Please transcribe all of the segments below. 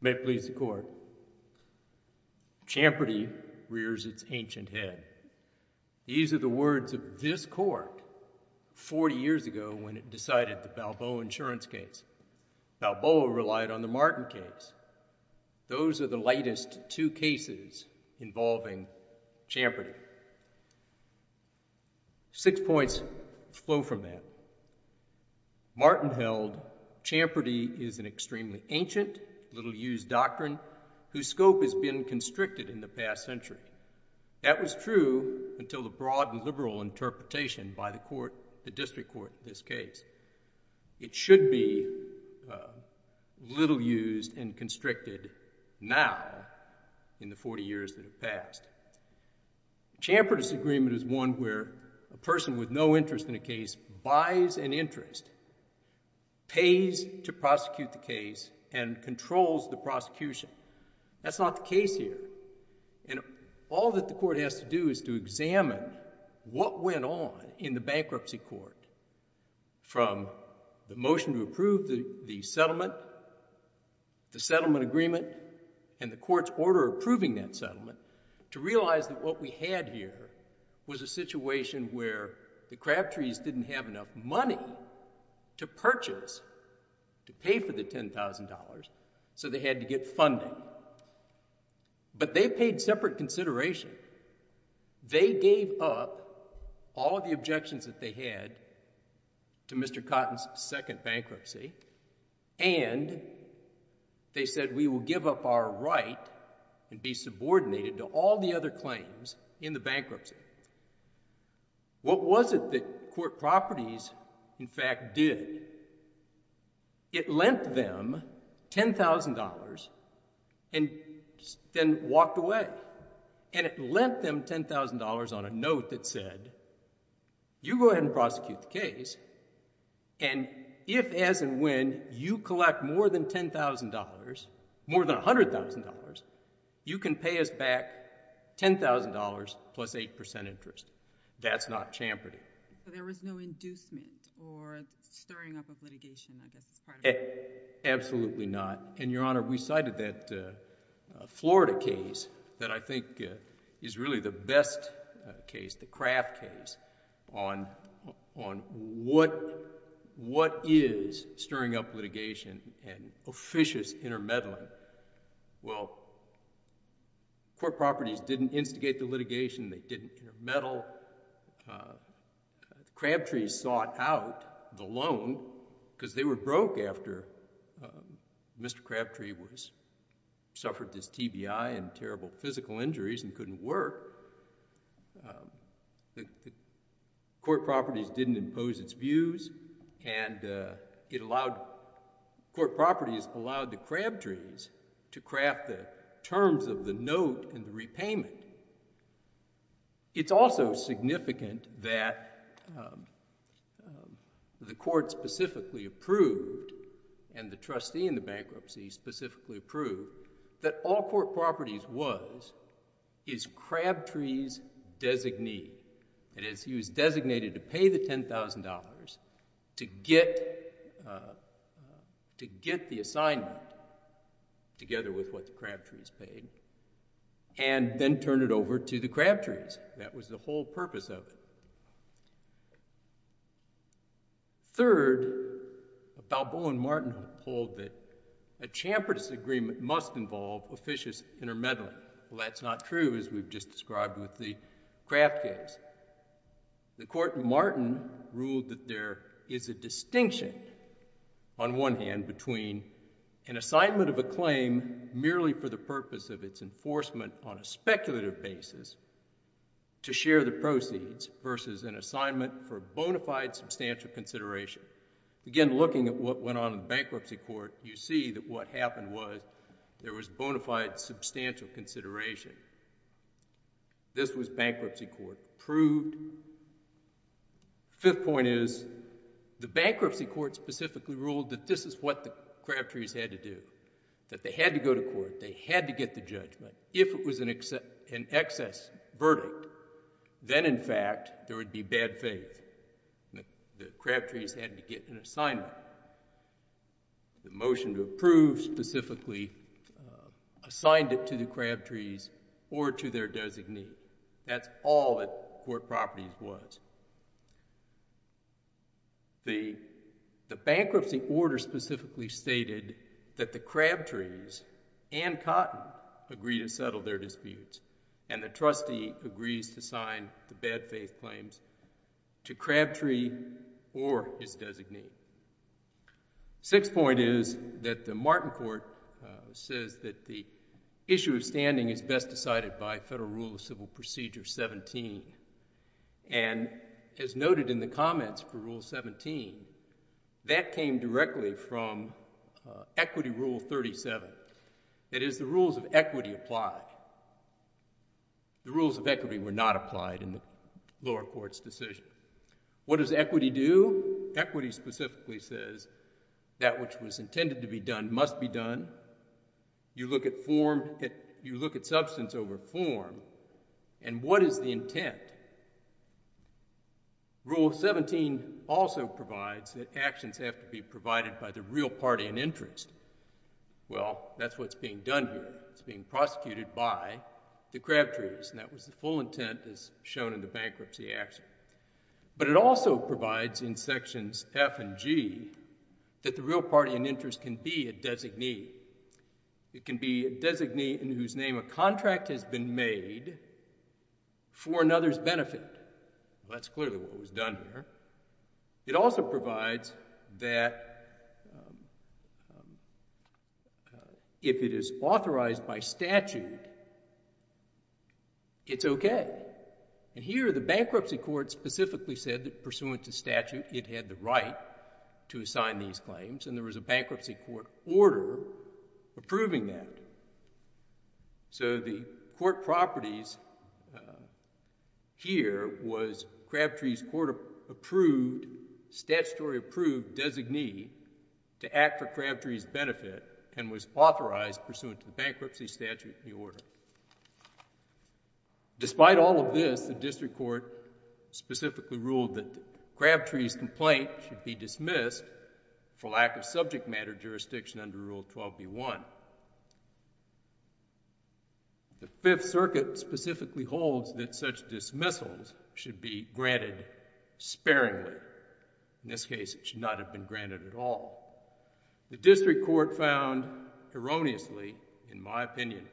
May it please the Court, Champerty rears its ancient head. These are the words of this Court forty years ago when it decided the Balboa insurance case. Balboa relied on the Martin case. Those are the latest two cases involving Champerty. Six points flow from that. Martin held Champerty is an extremely ancient, little-used doctrine whose scope has been constricted in the past century. That was true until the broad and liberal interpretation by the District Court in this case. It should be little-used and constricted now in the forty years that have passed. Champerty's agreement is one where a person with no interest in a case buys an interest, pays to prosecute the case, and controls the prosecution. That's not the case here. And all that the Court has to do is to examine what went on in the bankruptcy court from the motion to approve the settlement, the settlement agreement, and the Court's order approving that settlement, to realize that what we had here was a situation where the Crabtrees didn't have enough money to purchase, to pay for the $10,000, so they had to get funding. But they paid separate consideration. They gave up all of the objections that they had to Mr. Cotton's second bankruptcy, and they said, we will give up our right and be subordinated to all the other claims in the bankruptcy. What was it that Court Properties, in fact, did? It lent them $10,000 and then walked away. And it lent them $10,000 on a note that said, you go ahead and prosecute the case, and if, as and when, you collect more than $10,000, more than $100,000, you can pay us back $10,000 plus 8% interest. That's not Champerty. So there was no inducement or stirring up of litigation, I guess, as part of it? Absolutely not. And, Your Honor, we cited that Florida case that I think is really the best case, the Kraft case, on what is stirring up litigation and officious intermeddling. Well, Court Properties didn't instigate the litigation. They didn't meddle. Crabtree sought out the loan because they were broke after Mr. Crabtree suffered this TBI and terrible physical injuries and couldn't work. Court Properties didn't impose its views, and Court Properties allowed the Crabtrees to craft the terms of the note and the repayment. It's also significant that the Court specifically approved, and the trustee in the bankruptcy specifically approved, that all Court Properties was is Crabtree's designee. That is, he was designated to pay the $10,000 to get the assignment, together with what the Crabtrees paid, and then turn it over to the Crabtrees. That was the whole purpose of it. Third, Balboa and Martin hold that a Champerty's agreement must involve officious intermeddling. Well, that's not true, as we've just described with the Kraft case. The Court in Martin ruled that there is a distinction, on one hand, between an assignment of a claim merely for the purpose of its enforcement on a speculative basis to share the proceeds, versus an assignment for bona fide substantial consideration. Again, looking at what went on in the Bankruptcy Court, you see that what happened was there was bona fide substantial consideration. This was Bankruptcy Court approved. Fifth point is, the Bankruptcy Court specifically ruled that this is what the Crabtrees had to do, that they had to go to court, they had to get the judgment. If it was an excess verdict, then, in fact, there would be bad faith. The Crabtrees had to get an assignment. The motion to approve, specifically, assigned it to the Crabtrees or to their designee. That's all that court properties was. The Bankruptcy Order specifically stated that the Crabtrees and Cotton agree to settle their disputes, and the trustee agrees to sign the bad faith claims to Crabtree or his designee. Sixth point is that the Martin Court says that the issue of standing is best decided by Federal Rule of Civil Procedure 17. As noted in the comments for Rule 17, that came directly from Equity Rule 37. That is, the rules of equity apply. The rules of equity were not applied in the lower court's decision. What does equity do? Equity specifically says that which was intended to be done must be done. You look at substance over form, and what is the intent? Rule 17 also provides that actions have to be provided by the real party in interest. Well, that's what's being done here. It's being prosecuted by the Crabtrees, and that was the full intent as shown in the bankruptcy action. But it also provides in sections F and G that the real party in interest can be a designee. It can be a designee whose name a contract has been made for another's benefit. That's clearly what was done here. It also provides that if it is authorized by statute, it's okay. Here, the bankruptcy court specifically said that pursuant to statute, it had the right to assign these claims, and there was a bankruptcy court order approving that. So the court properties here was Crabtrees court-approved, statutory-approved designee to act for Crabtrees' benefit and was authorized pursuant to the bankruptcy statute and the order. Despite all of this, the district court specifically ruled that Crabtrees' complaint should be dismissed for lack of subject matter jurisdiction under Rule 12b-1. The Fifth Circuit specifically holds that such dismissals should be granted sparingly. In this case, it should not have been granted at all. The district court found erroneously, in my opinion,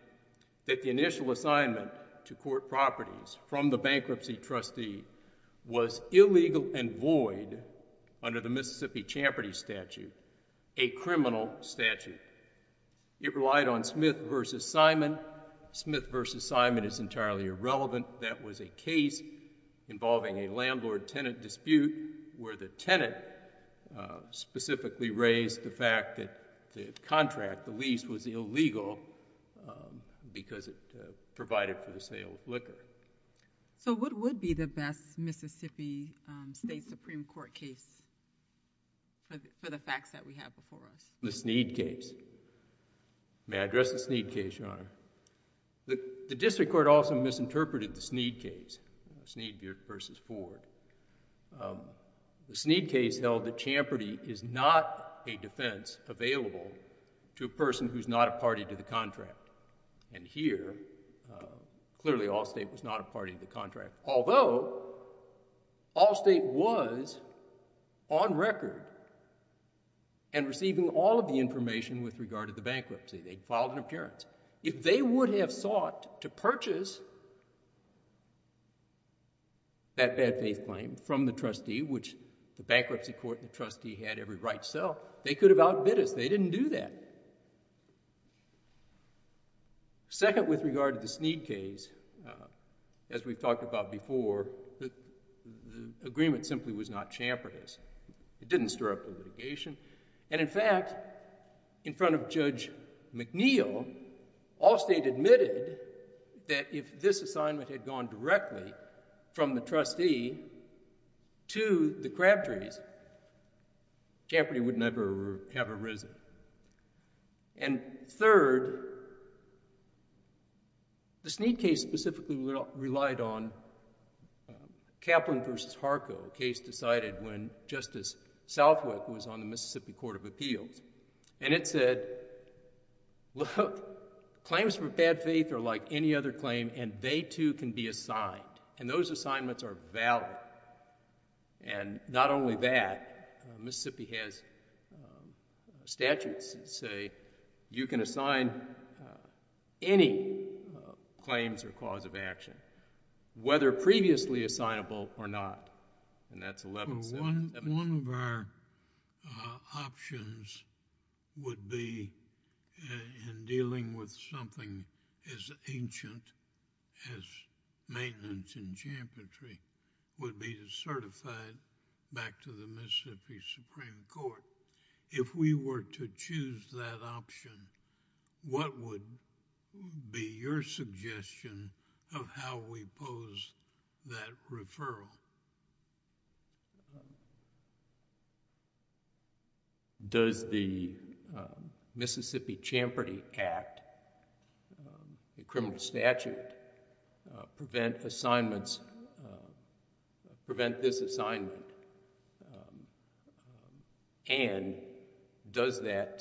that the initial assignment to court properties from the bankruptcy trustee was illegal and void under the Mississippi Champerty Statute, a criminal statute. It relied on Smith v. Simon. Smith v. Simon is entirely irrelevant. That was a case involving a landlord-tenant dispute where the tenant specifically raised the fact that the contract, the lease, was illegal because it provided for the sale of liquor. So what would be the best Mississippi State Supreme Court case for the facts that we have before us? The Sneed case. The district court also misinterpreted the Sneed case, Sneed v. Ford. The Sneed case held that Champerty is not a defense available to a person who is not a party to the contract. And here, clearly Allstate was not a party to the contract, although Allstate was on record and receiving all of the information with regard to the bankruptcy. They filed an appearance. If they would have sought to purchase that bad faith claim from the trustee, which the bankruptcy court and the trustee had every right to sell, they could have outbid us. They didn't do that. Second, with regard to the Sneed case, as we've talked about before, the agreement simply was not Champerty's. It didn't stir up the litigation. And in fact, in front of Judge McNeil, Allstate admitted that if this assignment had gone directly from the trustee to the Crabtrees, Champerty would never have arisen. And third, the Sneed case specifically relied on Kaplan v. Harco, a case decided when Justice Southwick was on the Mississippi Court of Appeals. And it said, look, claims for bad faith are like any other claim, and they too can be assigned. And those assignments are valid. And not only that, Mississippi has statutes that say you can assign any claims or cause of action, whether previously assignable or not. And that's... One of our options would be in dealing with something as ancient as maintenance in Champerty, would be to certify it back to the Mississippi Supreme Court. If we were to choose that option, what would be your suggestion of how we pose that referral? Does the Mississippi Champerty Act, the criminal statute, prevent assignments... and does that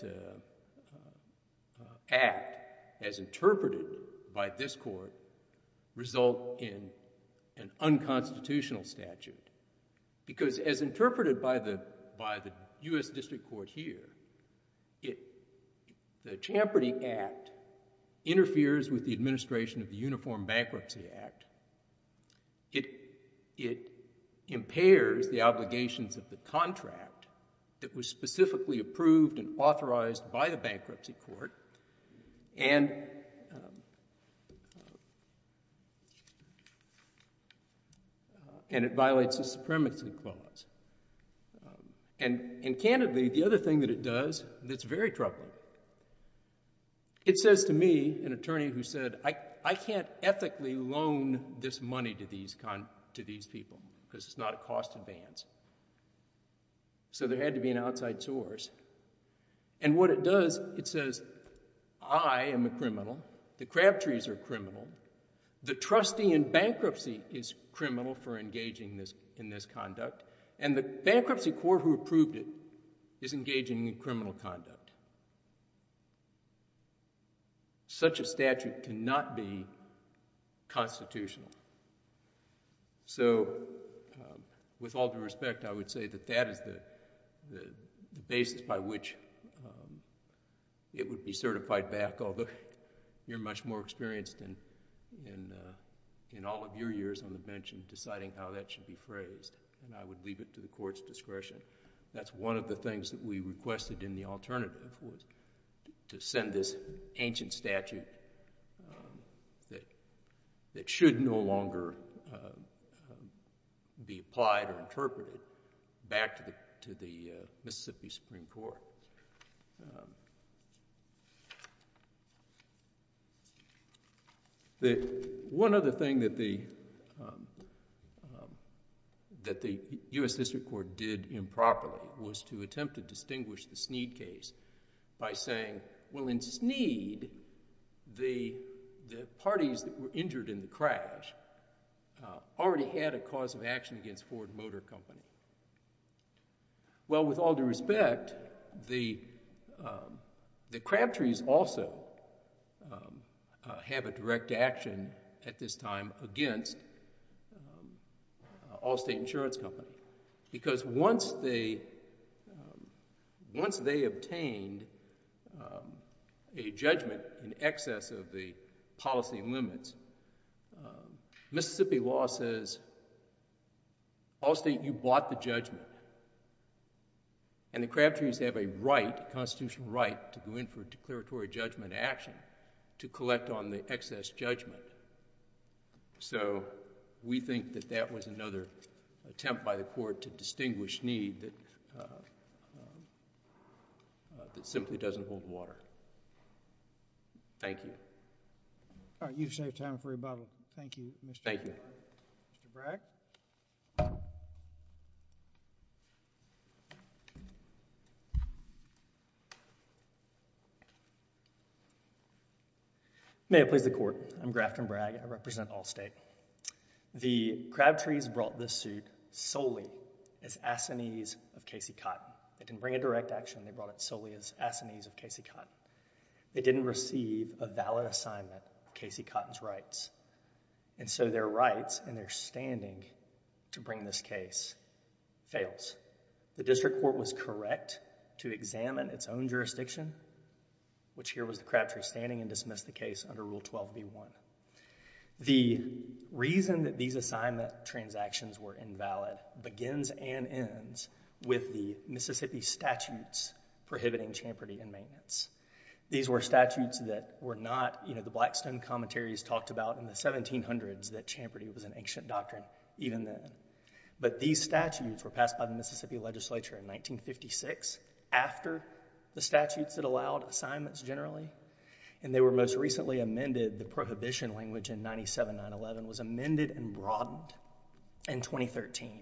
act, as interpreted by this Court, result in an unconstitutional statute? Because as interpreted by the U.S. District Court here, the Champerty Act interferes with the administration of the Uniform Bankruptcy Act. It impairs the obligations of the contract that was specifically approved and authorized by the bankruptcy court. And it violates the supremacy clause. And candidly, the other thing that it does that's very troubling, it says to me, an attorney who said, I can't ethically loan this money to these people because it's not a cost advance. So there had to be an outside source. And what it does, it says, I am a criminal, the Crabtrees are criminal, the trustee in bankruptcy is criminal for engaging in this conduct, and the bankruptcy court who approved it is engaging in criminal conduct. Such a statute cannot be constitutional. So, with all due respect, I would say that that is the basis by which it would be certified back, although you're much more experienced in all of your years on the bench in deciding how that should be phrased. And I would leave it to the court's discretion. That's one of the things that we requested in the alternative, was to send this ancient statute that should no longer be applied or interpreted back to the Mississippi Supreme Court. So, one other thing that the U.S. District Court did improperly was to attempt to distinguish the Sneed case by saying, well, in Sneed, the parties that were injured in the crash already had a cause of action against Ford Motor Company. Well, with all due respect, the Crabtrees also have a direct action at this time against Allstate Insurance Company. Because once they obtained a judgment in excess of the policy limits, Mississippi law says, Allstate, you bought the judgment. And the Crabtrees have a right, a constitutional right, to go in for a declaratory judgment action to collect on the excess judgment. So, we think that that was another attempt by the court to distinguish Sneed that simply doesn't hold water. Thank you. All right, you've saved time for your Bible. Thank you, Mr. Bragg. Thank you. Mr. Bragg? May it please the Court. I'm Grafton Bragg. I represent Allstate. The Crabtrees brought this suit solely as assinees of Casey Cotton. They didn't bring a direct action. They brought it solely as assinees of Casey Cotton. They didn't receive a valid assignment of Casey Cotton's rights. And so, their rights and their standing to bring this case fails. The district court was correct to examine its own jurisdiction, which here was the Crabtree standing and dismissed the case under Rule 12b-1. The reason that these assignment transactions were invalid begins and ends with the Mississippi statutes prohibiting Champerty and maintenance. These were statutes that were not, you know, the Blackstone commentaries talked about in the 1700s that Champerty was an ancient doctrine even then. But these statutes were passed by the Mississippi legislature in 1956 after the statutes that allowed assignments generally. And they were most recently amended, the prohibition language in 97-911 was amended and broadened in 2013.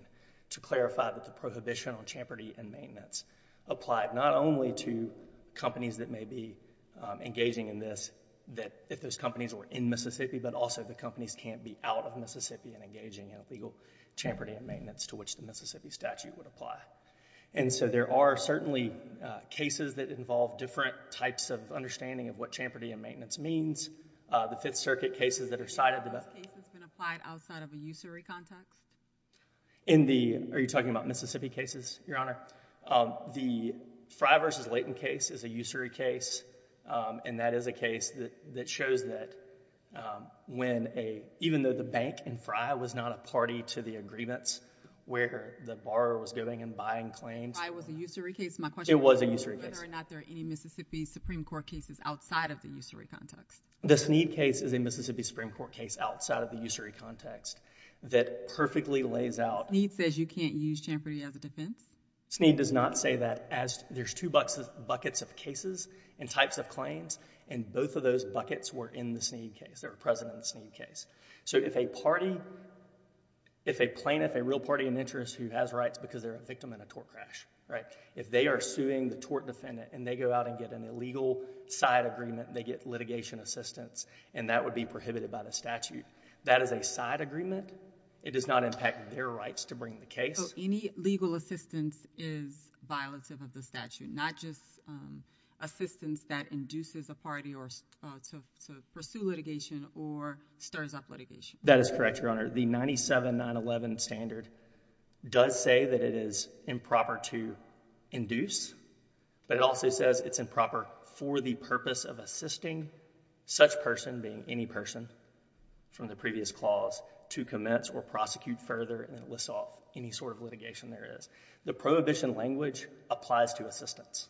To clarify that the prohibition on Champerty and maintenance applied not only to companies that may be engaging in this, that if those companies were in Mississippi, but also the companies can't be out of Mississippi and engaging in a legal Champerty and maintenance to which the Mississippi statute would apply. And so, there are certainly cases that involve different types of understanding of what Champerty and maintenance means. The Fifth Circuit cases that are cited... Have those cases been applied outside of a usury context? In the... are you talking about Mississippi cases, Your Honor? The Frye v. Layton case is a usury case. And that is a case that shows that when a... even though the bank in Frye was not a party to the agreements where the borrower was giving and buying claims... Frye was a usury case, my question is... It was a usury case.... whether or not there are any Mississippi Supreme Court cases outside of the usury context. The Sneed case is a Mississippi Supreme Court case outside of the usury context that perfectly lays out... Sneed says you can't use Champerty as a defense? Sneed does not say that as... there's two buckets of cases and types of claims and both of those buckets were in the Sneed case, they were present in the Sneed case. So, if a party... if a plaintiff, a real party in interest who has rights because they're a victim in a tort crash, right? If they are suing the tort defendant and they go out and get an illegal side agreement, they get litigation assistance and that would be prohibited by the statute. That is a side agreement, it does not impact their rights to bring the case. So, any legal assistance is violative of the statute, not just assistance that induces a party to pursue litigation or stirs up litigation? That is correct, Your Honor. The 97-911 standard does say that it is improper to induce, but it also says it's improper for the purpose of assisting such person, being any person from the previous clause, to commence or prosecute further and it lists off any sort of litigation there is. The prohibition language applies to assistance.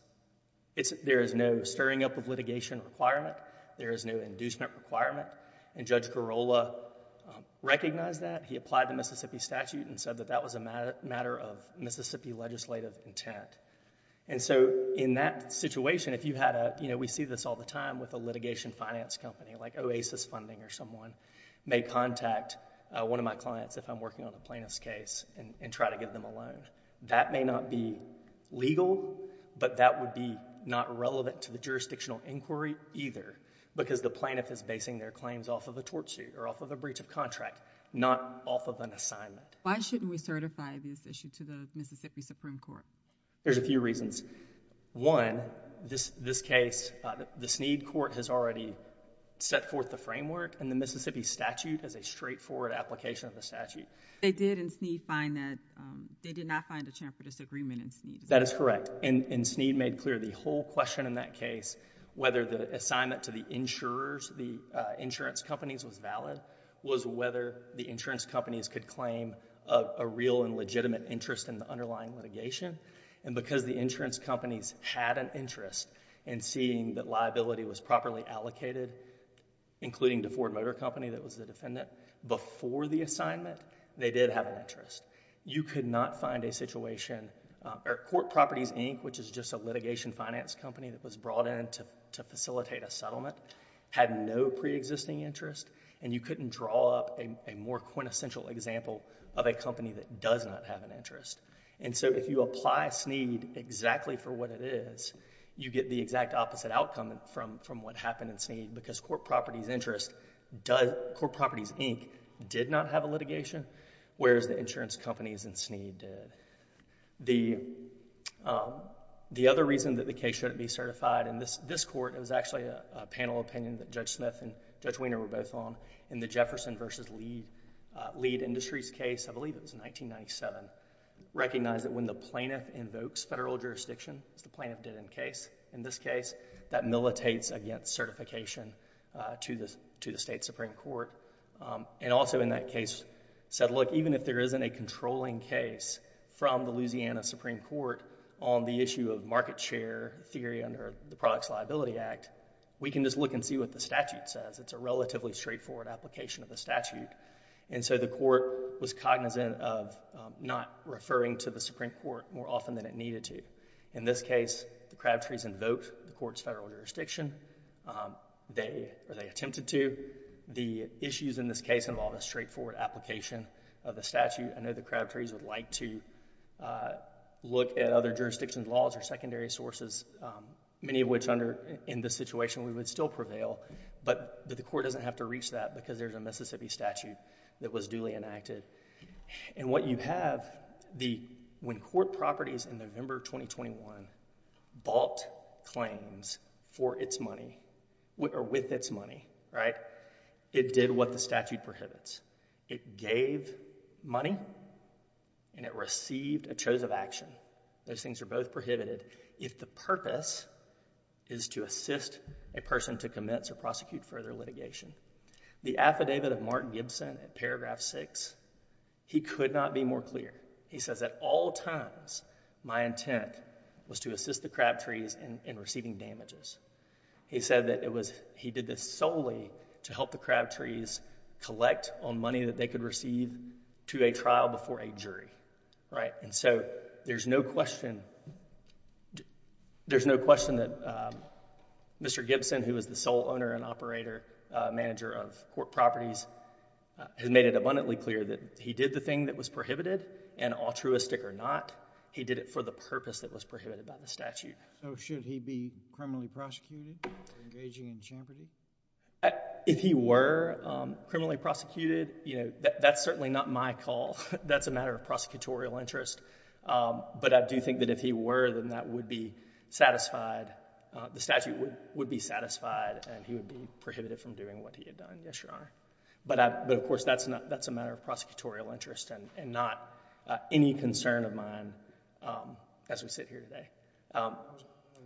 There is no stirring up of litigation requirement, there is no inducement requirement, and Judge Garola recognized that. He applied the Mississippi statute and said that that was a matter of Mississippi legislative intent. And so, in that situation, if you had a... you know, we see this all the time with a litigation finance company, like Oasis Funding or someone may contact one of my clients if I'm working on a plaintiff's case and try to get them a loan. That may not be legal, but that would be not relevant to the jurisdictional inquiry either because the plaintiff is basing their claims off of a tort suit or off of a breach of contract, not off of an assignment. Why shouldn't we certify this issue to the Mississippi Supreme Court? There's a few reasons. One, this case, the Sneed Court has already set forth the framework and the Mississippi statute as a straightforward application of the statute. They did in Sneed find that... they did not find a chance for disagreement in Sneed. That is correct. And Sneed made clear the whole question in that case, whether the assignment to the insurers, the insurance companies was valid, was whether the insurance companies could claim a real and legitimate interest in the underlying litigation. And because the insurance companies had an interest in seeing that liability was properly allocated, including the Ford Motor Company that was the defendant, before the assignment, they did have an interest. You could not find a situation... Court Properties, Inc., which is just a litigation finance company that was brought in to facilitate a settlement, had no preexisting interest, and you couldn't draw up a more quintessential example of a company that does not have an interest. And so if you apply Sneed exactly for what it is, you get the exact opposite outcome from what happened in Sneed because Court Properties, Inc. did not have a litigation, whereas the insurance companies in Sneed did. The other reason that the case shouldn't be certified in this court, it was actually a panel opinion that Judge Smith and Judge Weiner were both on, in the Jefferson v. Lead Industries case, I believe it was 1997, recognized that when the plaintiff invokes federal jurisdiction, as the plaintiff did in the case, in this case, that militates against certification to the state Supreme Court, and also in that case said, look, even if there isn't a controlling case from the Louisiana Supreme Court on the issue of market share theory under the Products Liability Act, we can just look and see what the statute says. It's a relatively straightforward application of the statute. And so the court was cognizant of not referring to the Supreme Court more often than it needed to. In this case, the Crabtrees invoked the court's federal jurisdiction. They attempted to. The issues in this case involved a straightforward application of the statute. I know the Crabtrees would like to look at other jurisdictions' laws or secondary sources, many of which under, in this situation, we would still prevail, but the court doesn't have to reach that because there's a Mississippi statute that was duly enacted. And what you have, when court properties in November 2021 bought claims for its money, or with its money, right, it did what the statute prohibits. It gave money, and it received a choice of action. Those things are both prohibited if the purpose is to assist a person to commit or prosecute further litigation. The affidavit of Martin Gibson in paragraph 6, he could not be more clear. He says, at all times, my intent was to assist the Crabtrees in receiving damages. He said that he did this solely to help the Crabtrees collect on money that they could receive to a trial before a jury. Right, and so there's no question, there's no question that Mr. Gibson, who is the sole owner and operator, manager of court properties, has made it abundantly clear that he did the thing that was prohibited, and altruistic or not, he did it for the purpose that was prohibited by the statute. So should he be criminally prosecuted for engaging in championing? If he were criminally prosecuted, that's certainly not my call. That's a matter of prosecutorial interest. But I do think that if he were, then that would be satisfied. The statute would be satisfied, and he would be prohibited from doing what he had done. Yes, Your Honor. But of course, that's a matter of prosecutorial interest and not any concern of mine as we sit here today. I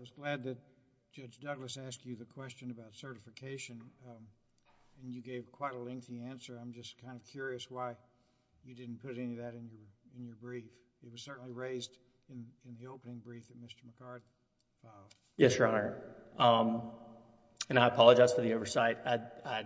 was glad that Judge Douglas asked you the question about certification, and you gave quite a lengthy answer. I'm just kind of curious why you didn't put any of that in your brief. It was certainly raised in the opening brief of Mr. McCarty. Yes, Your Honor. And I apologize for the oversight. I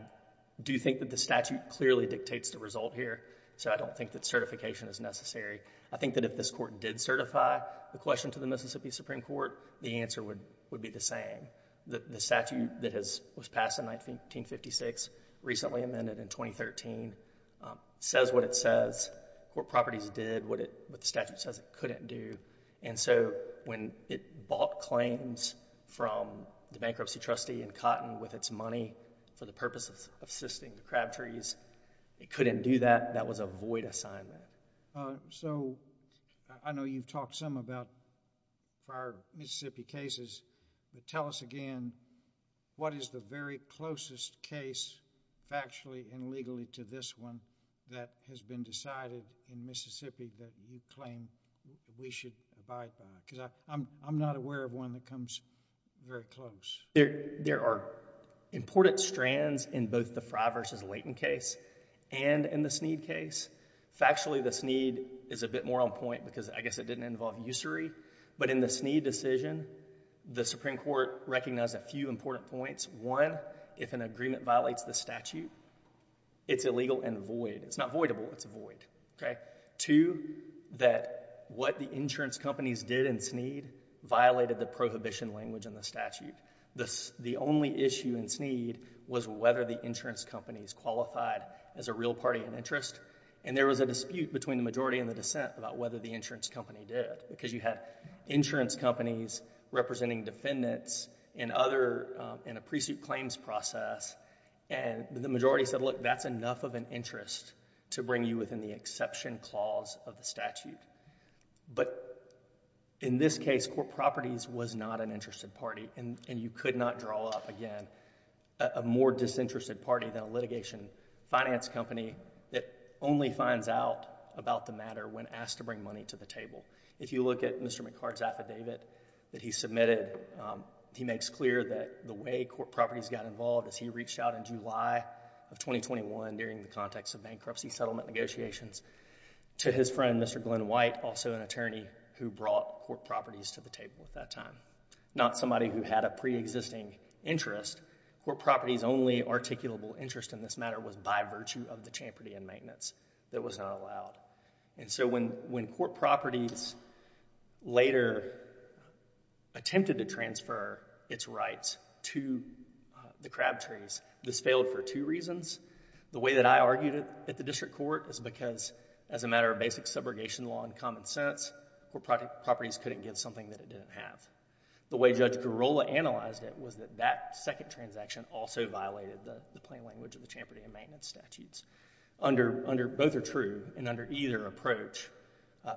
do think that the statute clearly dictates the result here, so I don't think that certification is necessary. I think that if this Court did certify the question to the Mississippi Supreme Court, the answer would be the same. The statute that was passed in 1956, recently amended in 2013, says what it says. What properties did, what the statute says it couldn't do. And so, when it bought claims from the bankruptcy trustee in Cotton with its money for the purpose of assisting the Crabtrees, it couldn't do that. That was a void assignment. So, I know you've talked some about prior Mississippi cases, but tell us again, what is the very closest case factually and legally to this one that has been decided in Mississippi that you claim we should abide by? Because I'm not aware of one that comes very close. There are important strands in both the Frye v. Layton case and in the Sneed case. Factually, the Sneed is a bit more on point because I guess it didn't involve usury. But in the Sneed decision, the Supreme Court recognized a few important points. One, if an agreement violates the statute, it's illegal and void. It's not voidable, it's a void. Two, that what the insurance companies did in Sneed violated the prohibition language in the statute. The only issue in Sneed was whether the insurance companies qualified as a real party in interest. And there was a dispute between the majority and the dissent about whether the insurance company did. Because you had insurance companies representing defendants in a pre-suit claims process, and the majority said, look, that's enough of an interest to bring you within the exception clause of the statute. But in this case, Court Properties was not an interested party, and you could not draw up, again, a more disinterested party than a litigation finance company that only finds out about the matter when asked to bring money to the table. If you look at Mr. McCart's affidavit that he submitted, he makes clear that the way Court Properties got involved is he reached out in July of 2021 during the context of bankruptcy settlement negotiations to his friend, Mr. Glenn White, also an attorney who brought Court Properties to the table at that time. Not somebody who had a pre-existing interest. Court Properties' only articulable interest in this matter was by virtue of the champerty and maintenance. That was not allowed. And so when Court Properties later attempted to transfer its rights to the Crabtrees, this failed for two reasons. The way that I argued it at the district court is because, as a matter of basic subrogation law and common sense, Court Properties couldn't get something that it didn't have. The way Judge Girola analyzed it was that that second transaction also violated the plain language of the champerty and maintenance statutes. Both are true, and under either approach,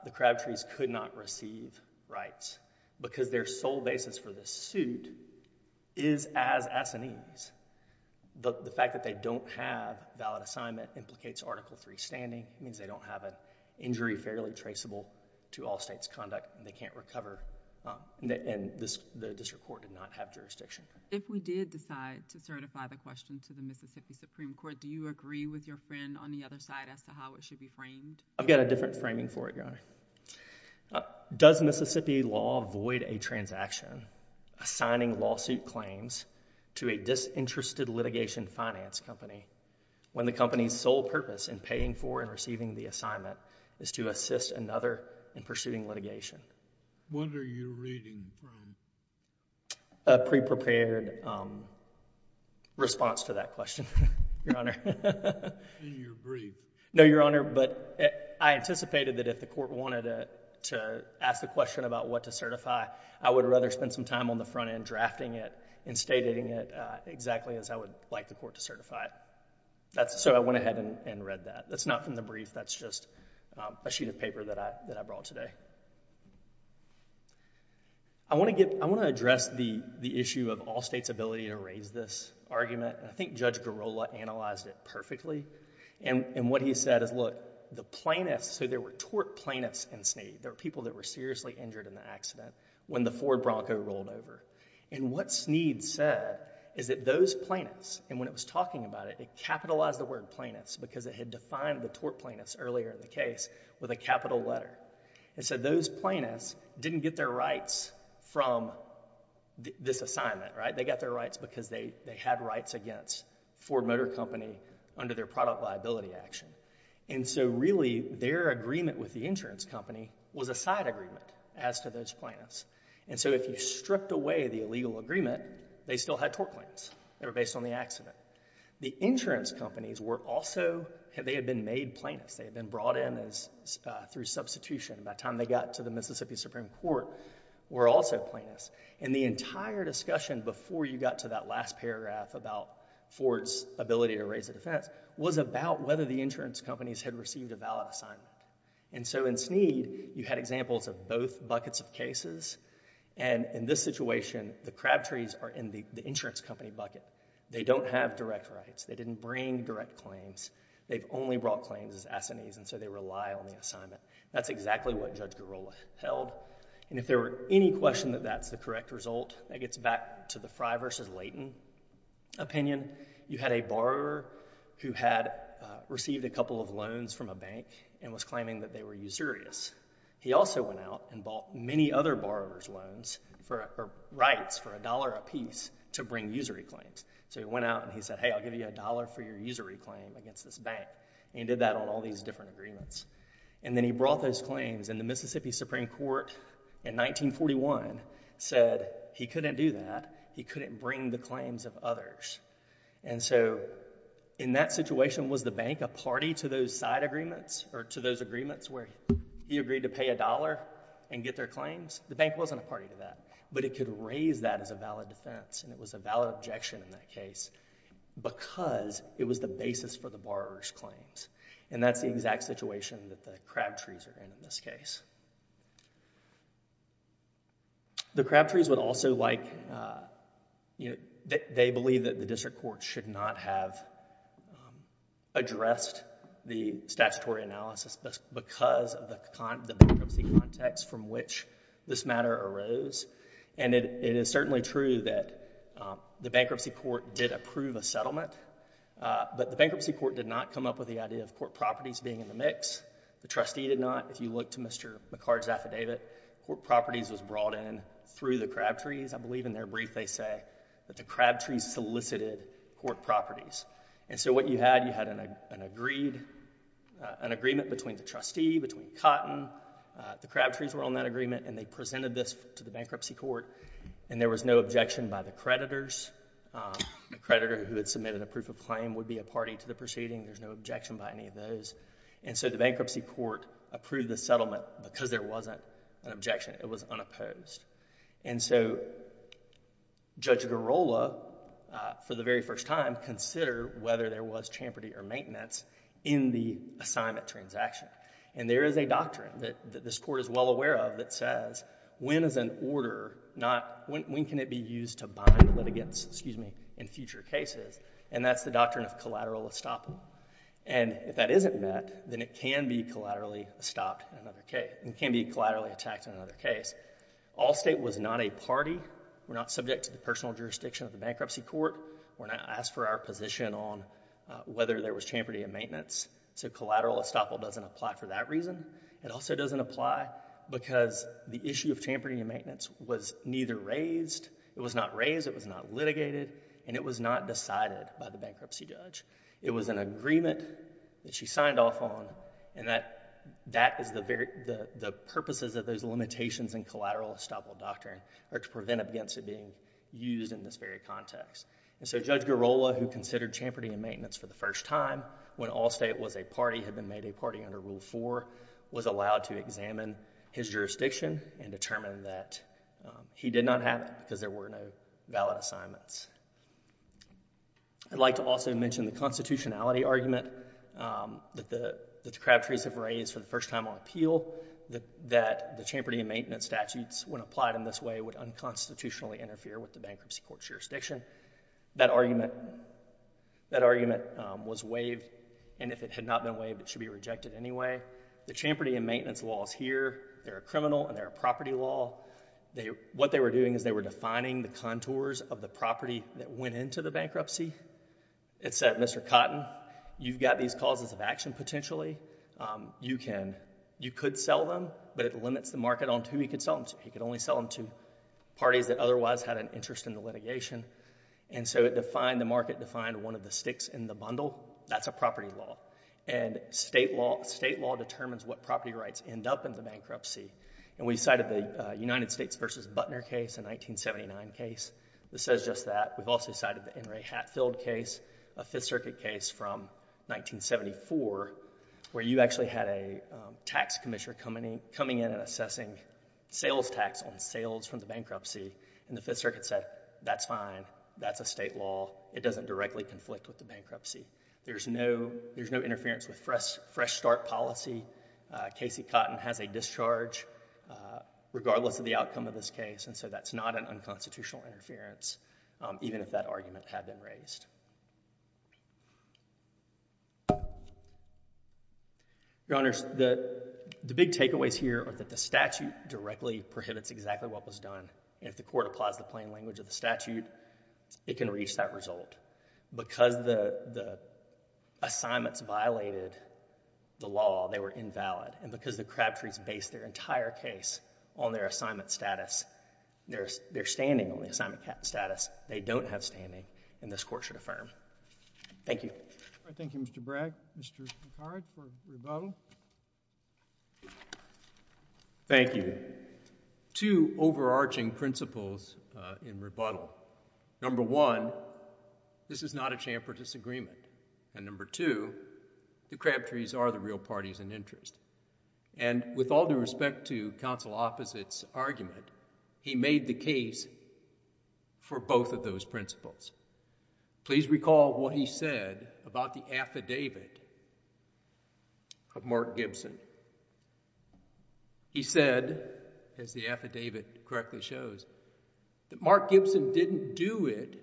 the Crabtrees could not receive rights because their sole basis for this suit is as assinees. The fact that they don't have valid assignment implicates Article III standing. It means they don't have an injury fairly traceable to all state's conduct and they can't recover, and the district court did not have jurisdiction. If we did decide to certify the question to the Mississippi Supreme Court, do you agree with your friend on the other side as to how it should be framed? I've got a different framing for it, Your Honor. Does Mississippi law void a transaction assigning lawsuit claims to a disinterested litigation finance company when the company's sole purpose in paying for and receiving the assignment is to assist another in pursuing litigation? What are you reading from? A pre-prepared response to that question, Your Honor. In your brief? No, Your Honor, but I anticipated that if the court wanted to ask the question about what to certify, I would rather spend some time on the front end drafting it and stating it exactly as I would like the court to certify it. So I went ahead and read that. That's not from the brief. That's just a sheet of paper that I brought today. I want to address the issue of all state's ability to raise this argument. I think Judge Girola analyzed it perfectly, and what he said is, look, the plaintiffs, so there were tort plaintiffs in Sneed. There were people that were seriously injured in the accident when the Ford Bronco rolled over, and what Sneed said is that those plaintiffs, and when it was talking about it, it capitalized the word plaintiffs because it had defined the tort plaintiffs earlier in the case with a capital letter. It said those plaintiffs didn't get their rights from this assignment, right? They got their rights because they had rights against Ford Motor Company under their product liability action, and so really their agreement with the insurance company was a side agreement as to those plaintiffs, and so if you stripped away the illegal agreement, they still had tort plaintiffs. They were based on the accident. The insurance companies were also, they had been made plaintiffs. They had been brought in through substitution. By the time they got to the Mississippi Supreme Court, were also plaintiffs, and the entire discussion before you got to that last paragraph about Ford's ability to raise the defense was about whether the insurance companies had received a valid assignment, and so in Sneed, you had examples of both buckets of cases, and in this situation, the crab trees are in the insurance company bucket. They don't have direct rights. They didn't bring direct claims. They've only brought claims as assinees, and so they rely on the assignment. That's exactly what Judge Girola held, and if there were any question that that's the correct result, that gets back to the Fry versus Layton opinion. You had a borrower who had received a couple of loans from a bank and was claiming that they were usurious. He also went out and bought many other borrowers' loans or rights for $1 apiece to bring usury claims, so he went out and he said, hey, I'll give you $1 for your usury claim against this bank, and he did that on all these different agreements, and then he brought those claims, and the Mississippi Supreme Court in 1941 said he couldn't do that. He couldn't bring the claims of others, and so in that situation, was the bank a party to those side agreements or to those agreements where he agreed to pay $1 and get their claims? The bank wasn't a party to that, but it could raise that as a valid defense, and it was a valid objection in that case because it was the basis for the borrower's claims, and that's the exact situation that the Crabtrees are in in this case. The Crabtrees would also like, you know, they believe that the district court should not have addressed the statutory analysis because of the bankruptcy context from which this matter arose, and it is certainly true that the bankruptcy court did approve a settlement, but the bankruptcy court did not come up with the idea of court properties being in the mix. The trustee did not. If you look to Mr. McCart's affidavit, court properties was brought in through the Crabtrees. I believe in their brief they say that the Crabtrees solicited court properties, and so what you had, you had an agreement between the trustee, between Cotton, the Crabtrees were on that agreement, and they presented this to the bankruptcy court, and there was no objection by the creditors. The creditor who had submitted a proof of claim would be a party to the proceeding. There's no objection by any of those, and so the bankruptcy court approved the settlement because there wasn't an objection. It was unopposed, and so Judge Garola, for the very first time, considered whether there was champerty or maintenance in the assignment transaction, and there is a doctrine that this court is well aware of that says when is an order not, when can it be used to bind litigants, excuse me, in future cases, and that's the doctrine of collateral estoppel, and if that isn't met, then it can be collaterally stopped in another case, it can be collaterally attacked in another case. Allstate was not a party. We're not subject to the personal jurisdiction of the bankruptcy court. We're not asked for our position on whether there was champerty or maintenance, so collateral estoppel doesn't apply for that reason. It also doesn't apply because the issue of champerty and maintenance was neither raised, it was not raised, it was not litigated, and it was not decided by the bankruptcy judge. It was an agreement that she signed off on, and that is the purposes of those limitations in collateral estoppel doctrine are to prevent against it being used in this very context, and so Judge Garola, who considered champerty and maintenance for the first time when Allstate was a party, had been made a party under Rule 4, was allowed to examine his jurisdiction and determine that he did not have it because there were no valid assignments. I'd like to also mention the constitutionality argument that the decrepitories have raised for the first time on appeal that the champerty and maintenance statutes, when applied in this way, would unconstitutionally interfere with the bankruptcy court's jurisdiction. That argument was waived, and if it had not been waived, it should be rejected anyway. The champerty and maintenance laws here, they're a criminal and they're a property law. What they were doing is they were defining the contours of the property that went into the bankruptcy. It said, Mr. Cotton, you've got these causes of action potentially. You could sell them, but it limits the market on who you could sell them to. You could only sell them to parties that otherwise had an interest in the litigation. It defined the market, defined one of the sticks in the bundle. That's a property law. State law determines what property rights end up in the bankruptcy. We cited the United States v. Butner case, a 1979 case, that says just that. We've also cited the N. Ray Hatfield case, a Fifth Circuit case from 1974, where you actually had a tax commissioner coming in and assessing sales tax on sales from the bankruptcy, and the Fifth Circuit said, that's fine, that's a state law. It doesn't directly conflict with the bankruptcy. There's no interference with fresh start policy. Casey Cotton has a discharge, regardless of the outcome of this case, and so that's not an unconstitutional interference, even if that argument had been raised. Your Honors, the big takeaways here are that the statute directly prohibits exactly what was done. If the court applies the plain language of the statute, it can reach that result. Because the assignments violated the law, they were invalid, and because the Crabtrees based their entire case on their assignment status, their standing on the assignment status, they don't have standing, and this court should affirm. Thank you. Thank you, Mr. Bragg. Mr. McHarrick for rebuttal. Thank you. Again, two overarching principles in rebuttal. Number one, this is not a champ for disagreement, and number two, the Crabtrees are the real parties in interest, and with all due respect to counsel opposite's argument, he made the case for both of those principles. Please recall what he said about the affidavit of Mark Gibson. He said, as the affidavit correctly shows, that Mark Gibson didn't do it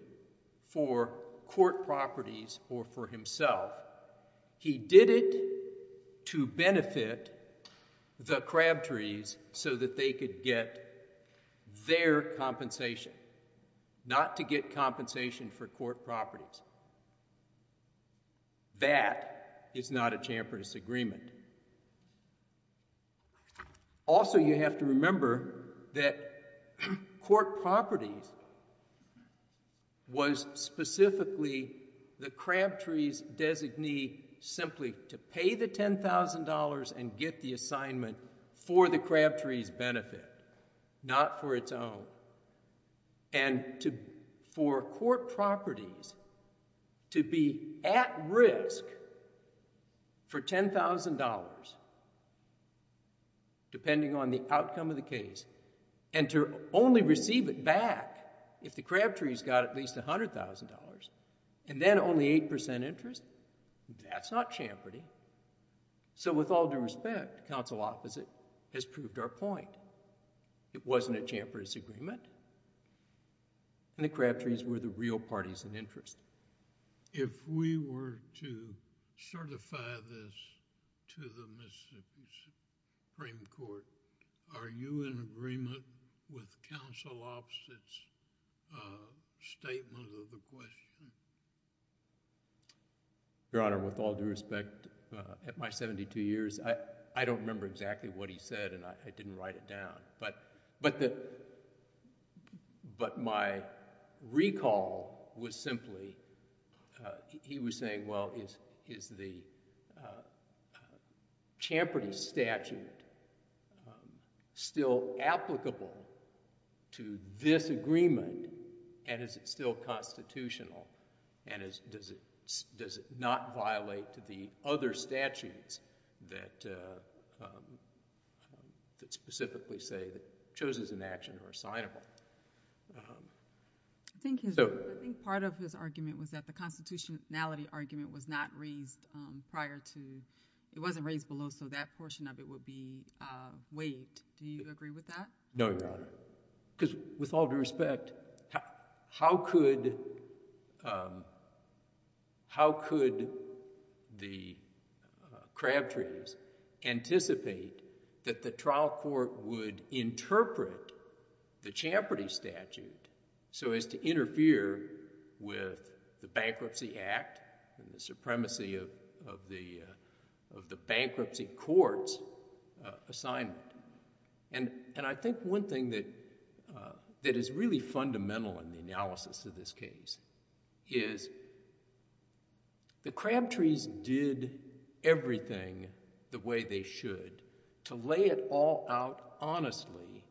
for court properties or for himself. He did it to benefit the Crabtrees so that they could get their compensation, not to get compensation for court properties. That is not a champ for disagreement. Also, you have to remember that court properties was specifically the Crabtrees' designee simply to pay the $10,000 and get the assignment for the Crabtrees' benefit, not for its own, and for court properties to be at risk for $10,000 depending on the outcome of the case and to only receive it back if the Crabtrees got at least $100,000 and then only 8% interest, that's not champerty. So with all due respect, counsel opposite has proved our point. It wasn't a champ for disagreement, and the Crabtrees were the real parties in interest. If we were to certify this to the Mississippi Supreme Court, are you in agreement with counsel opposite's statement of the question? Your Honor, with all due respect, at my 72 years, I don't remember exactly what he said and I didn't write it down, but my recall was simply, he was saying, well, is the champerty statute still applicable to this agreement and is it still constitutional and does it not violate the other statutes that specifically say that it shows as an action or a signable? I think part of his argument was that the constitutionality argument was not raised prior to, it wasn't raised below, so that portion of it would be waived. Do you agree with that? No, Your Honor. Because with all due respect, how could the Crabtrees anticipate that the trial court would interpret the champerty statute so as to interfere with the Bankruptcy Act and the supremacy of the bankruptcy court's assignment? And I think one thing that is really fundamental in the analysis of this case is the Crabtrees did everything the way they should to lay it all out honestly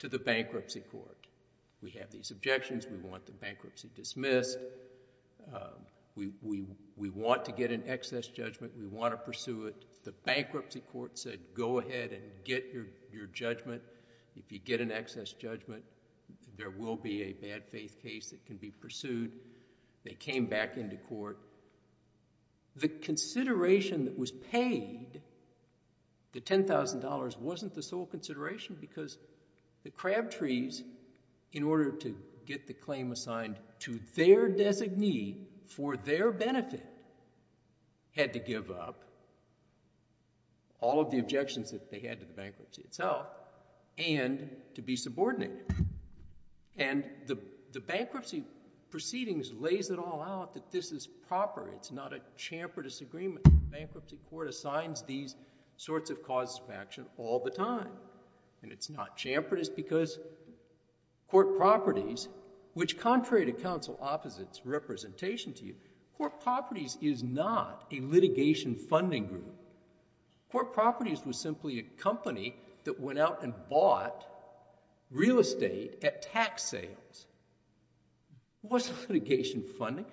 to the bankruptcy court. We have these objections. We want the bankruptcy dismissed. We want to get an excess judgment. We want to pursue it. The bankruptcy court said go ahead and get your judgment. If you get an excess judgment, there will be a bad faith case that can be pursued. They came back into court. The consideration that was paid, the $10,000 wasn't the sole consideration because the Crabtrees, in order to get the claim assigned to their designee for their benefit, had to give up. All of the objections that they had to the bankruptcy itself and to be subordinated. And the bankruptcy proceedings lays it all out that this is proper. It's not a champerty agreement. The bankruptcy court assigns these sorts of causes of action all the time. And it's not champerty because court properties, which contrary to counsel opposites representation to you, court properties is not a litigation funding group. Court properties was simply a company that went out and bought real estate at tax sales. It wasn't litigation funding.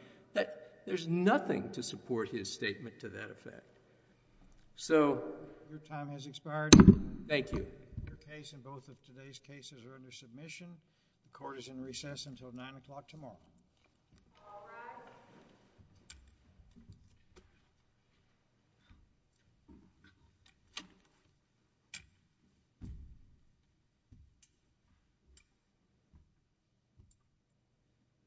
There's nothing to support his statement to that effect. So... Your time has expired. Thank you. Your case and both of today's cases are under submission. The court is in recess until 9 o'clock tomorrow. All rise. Thank you.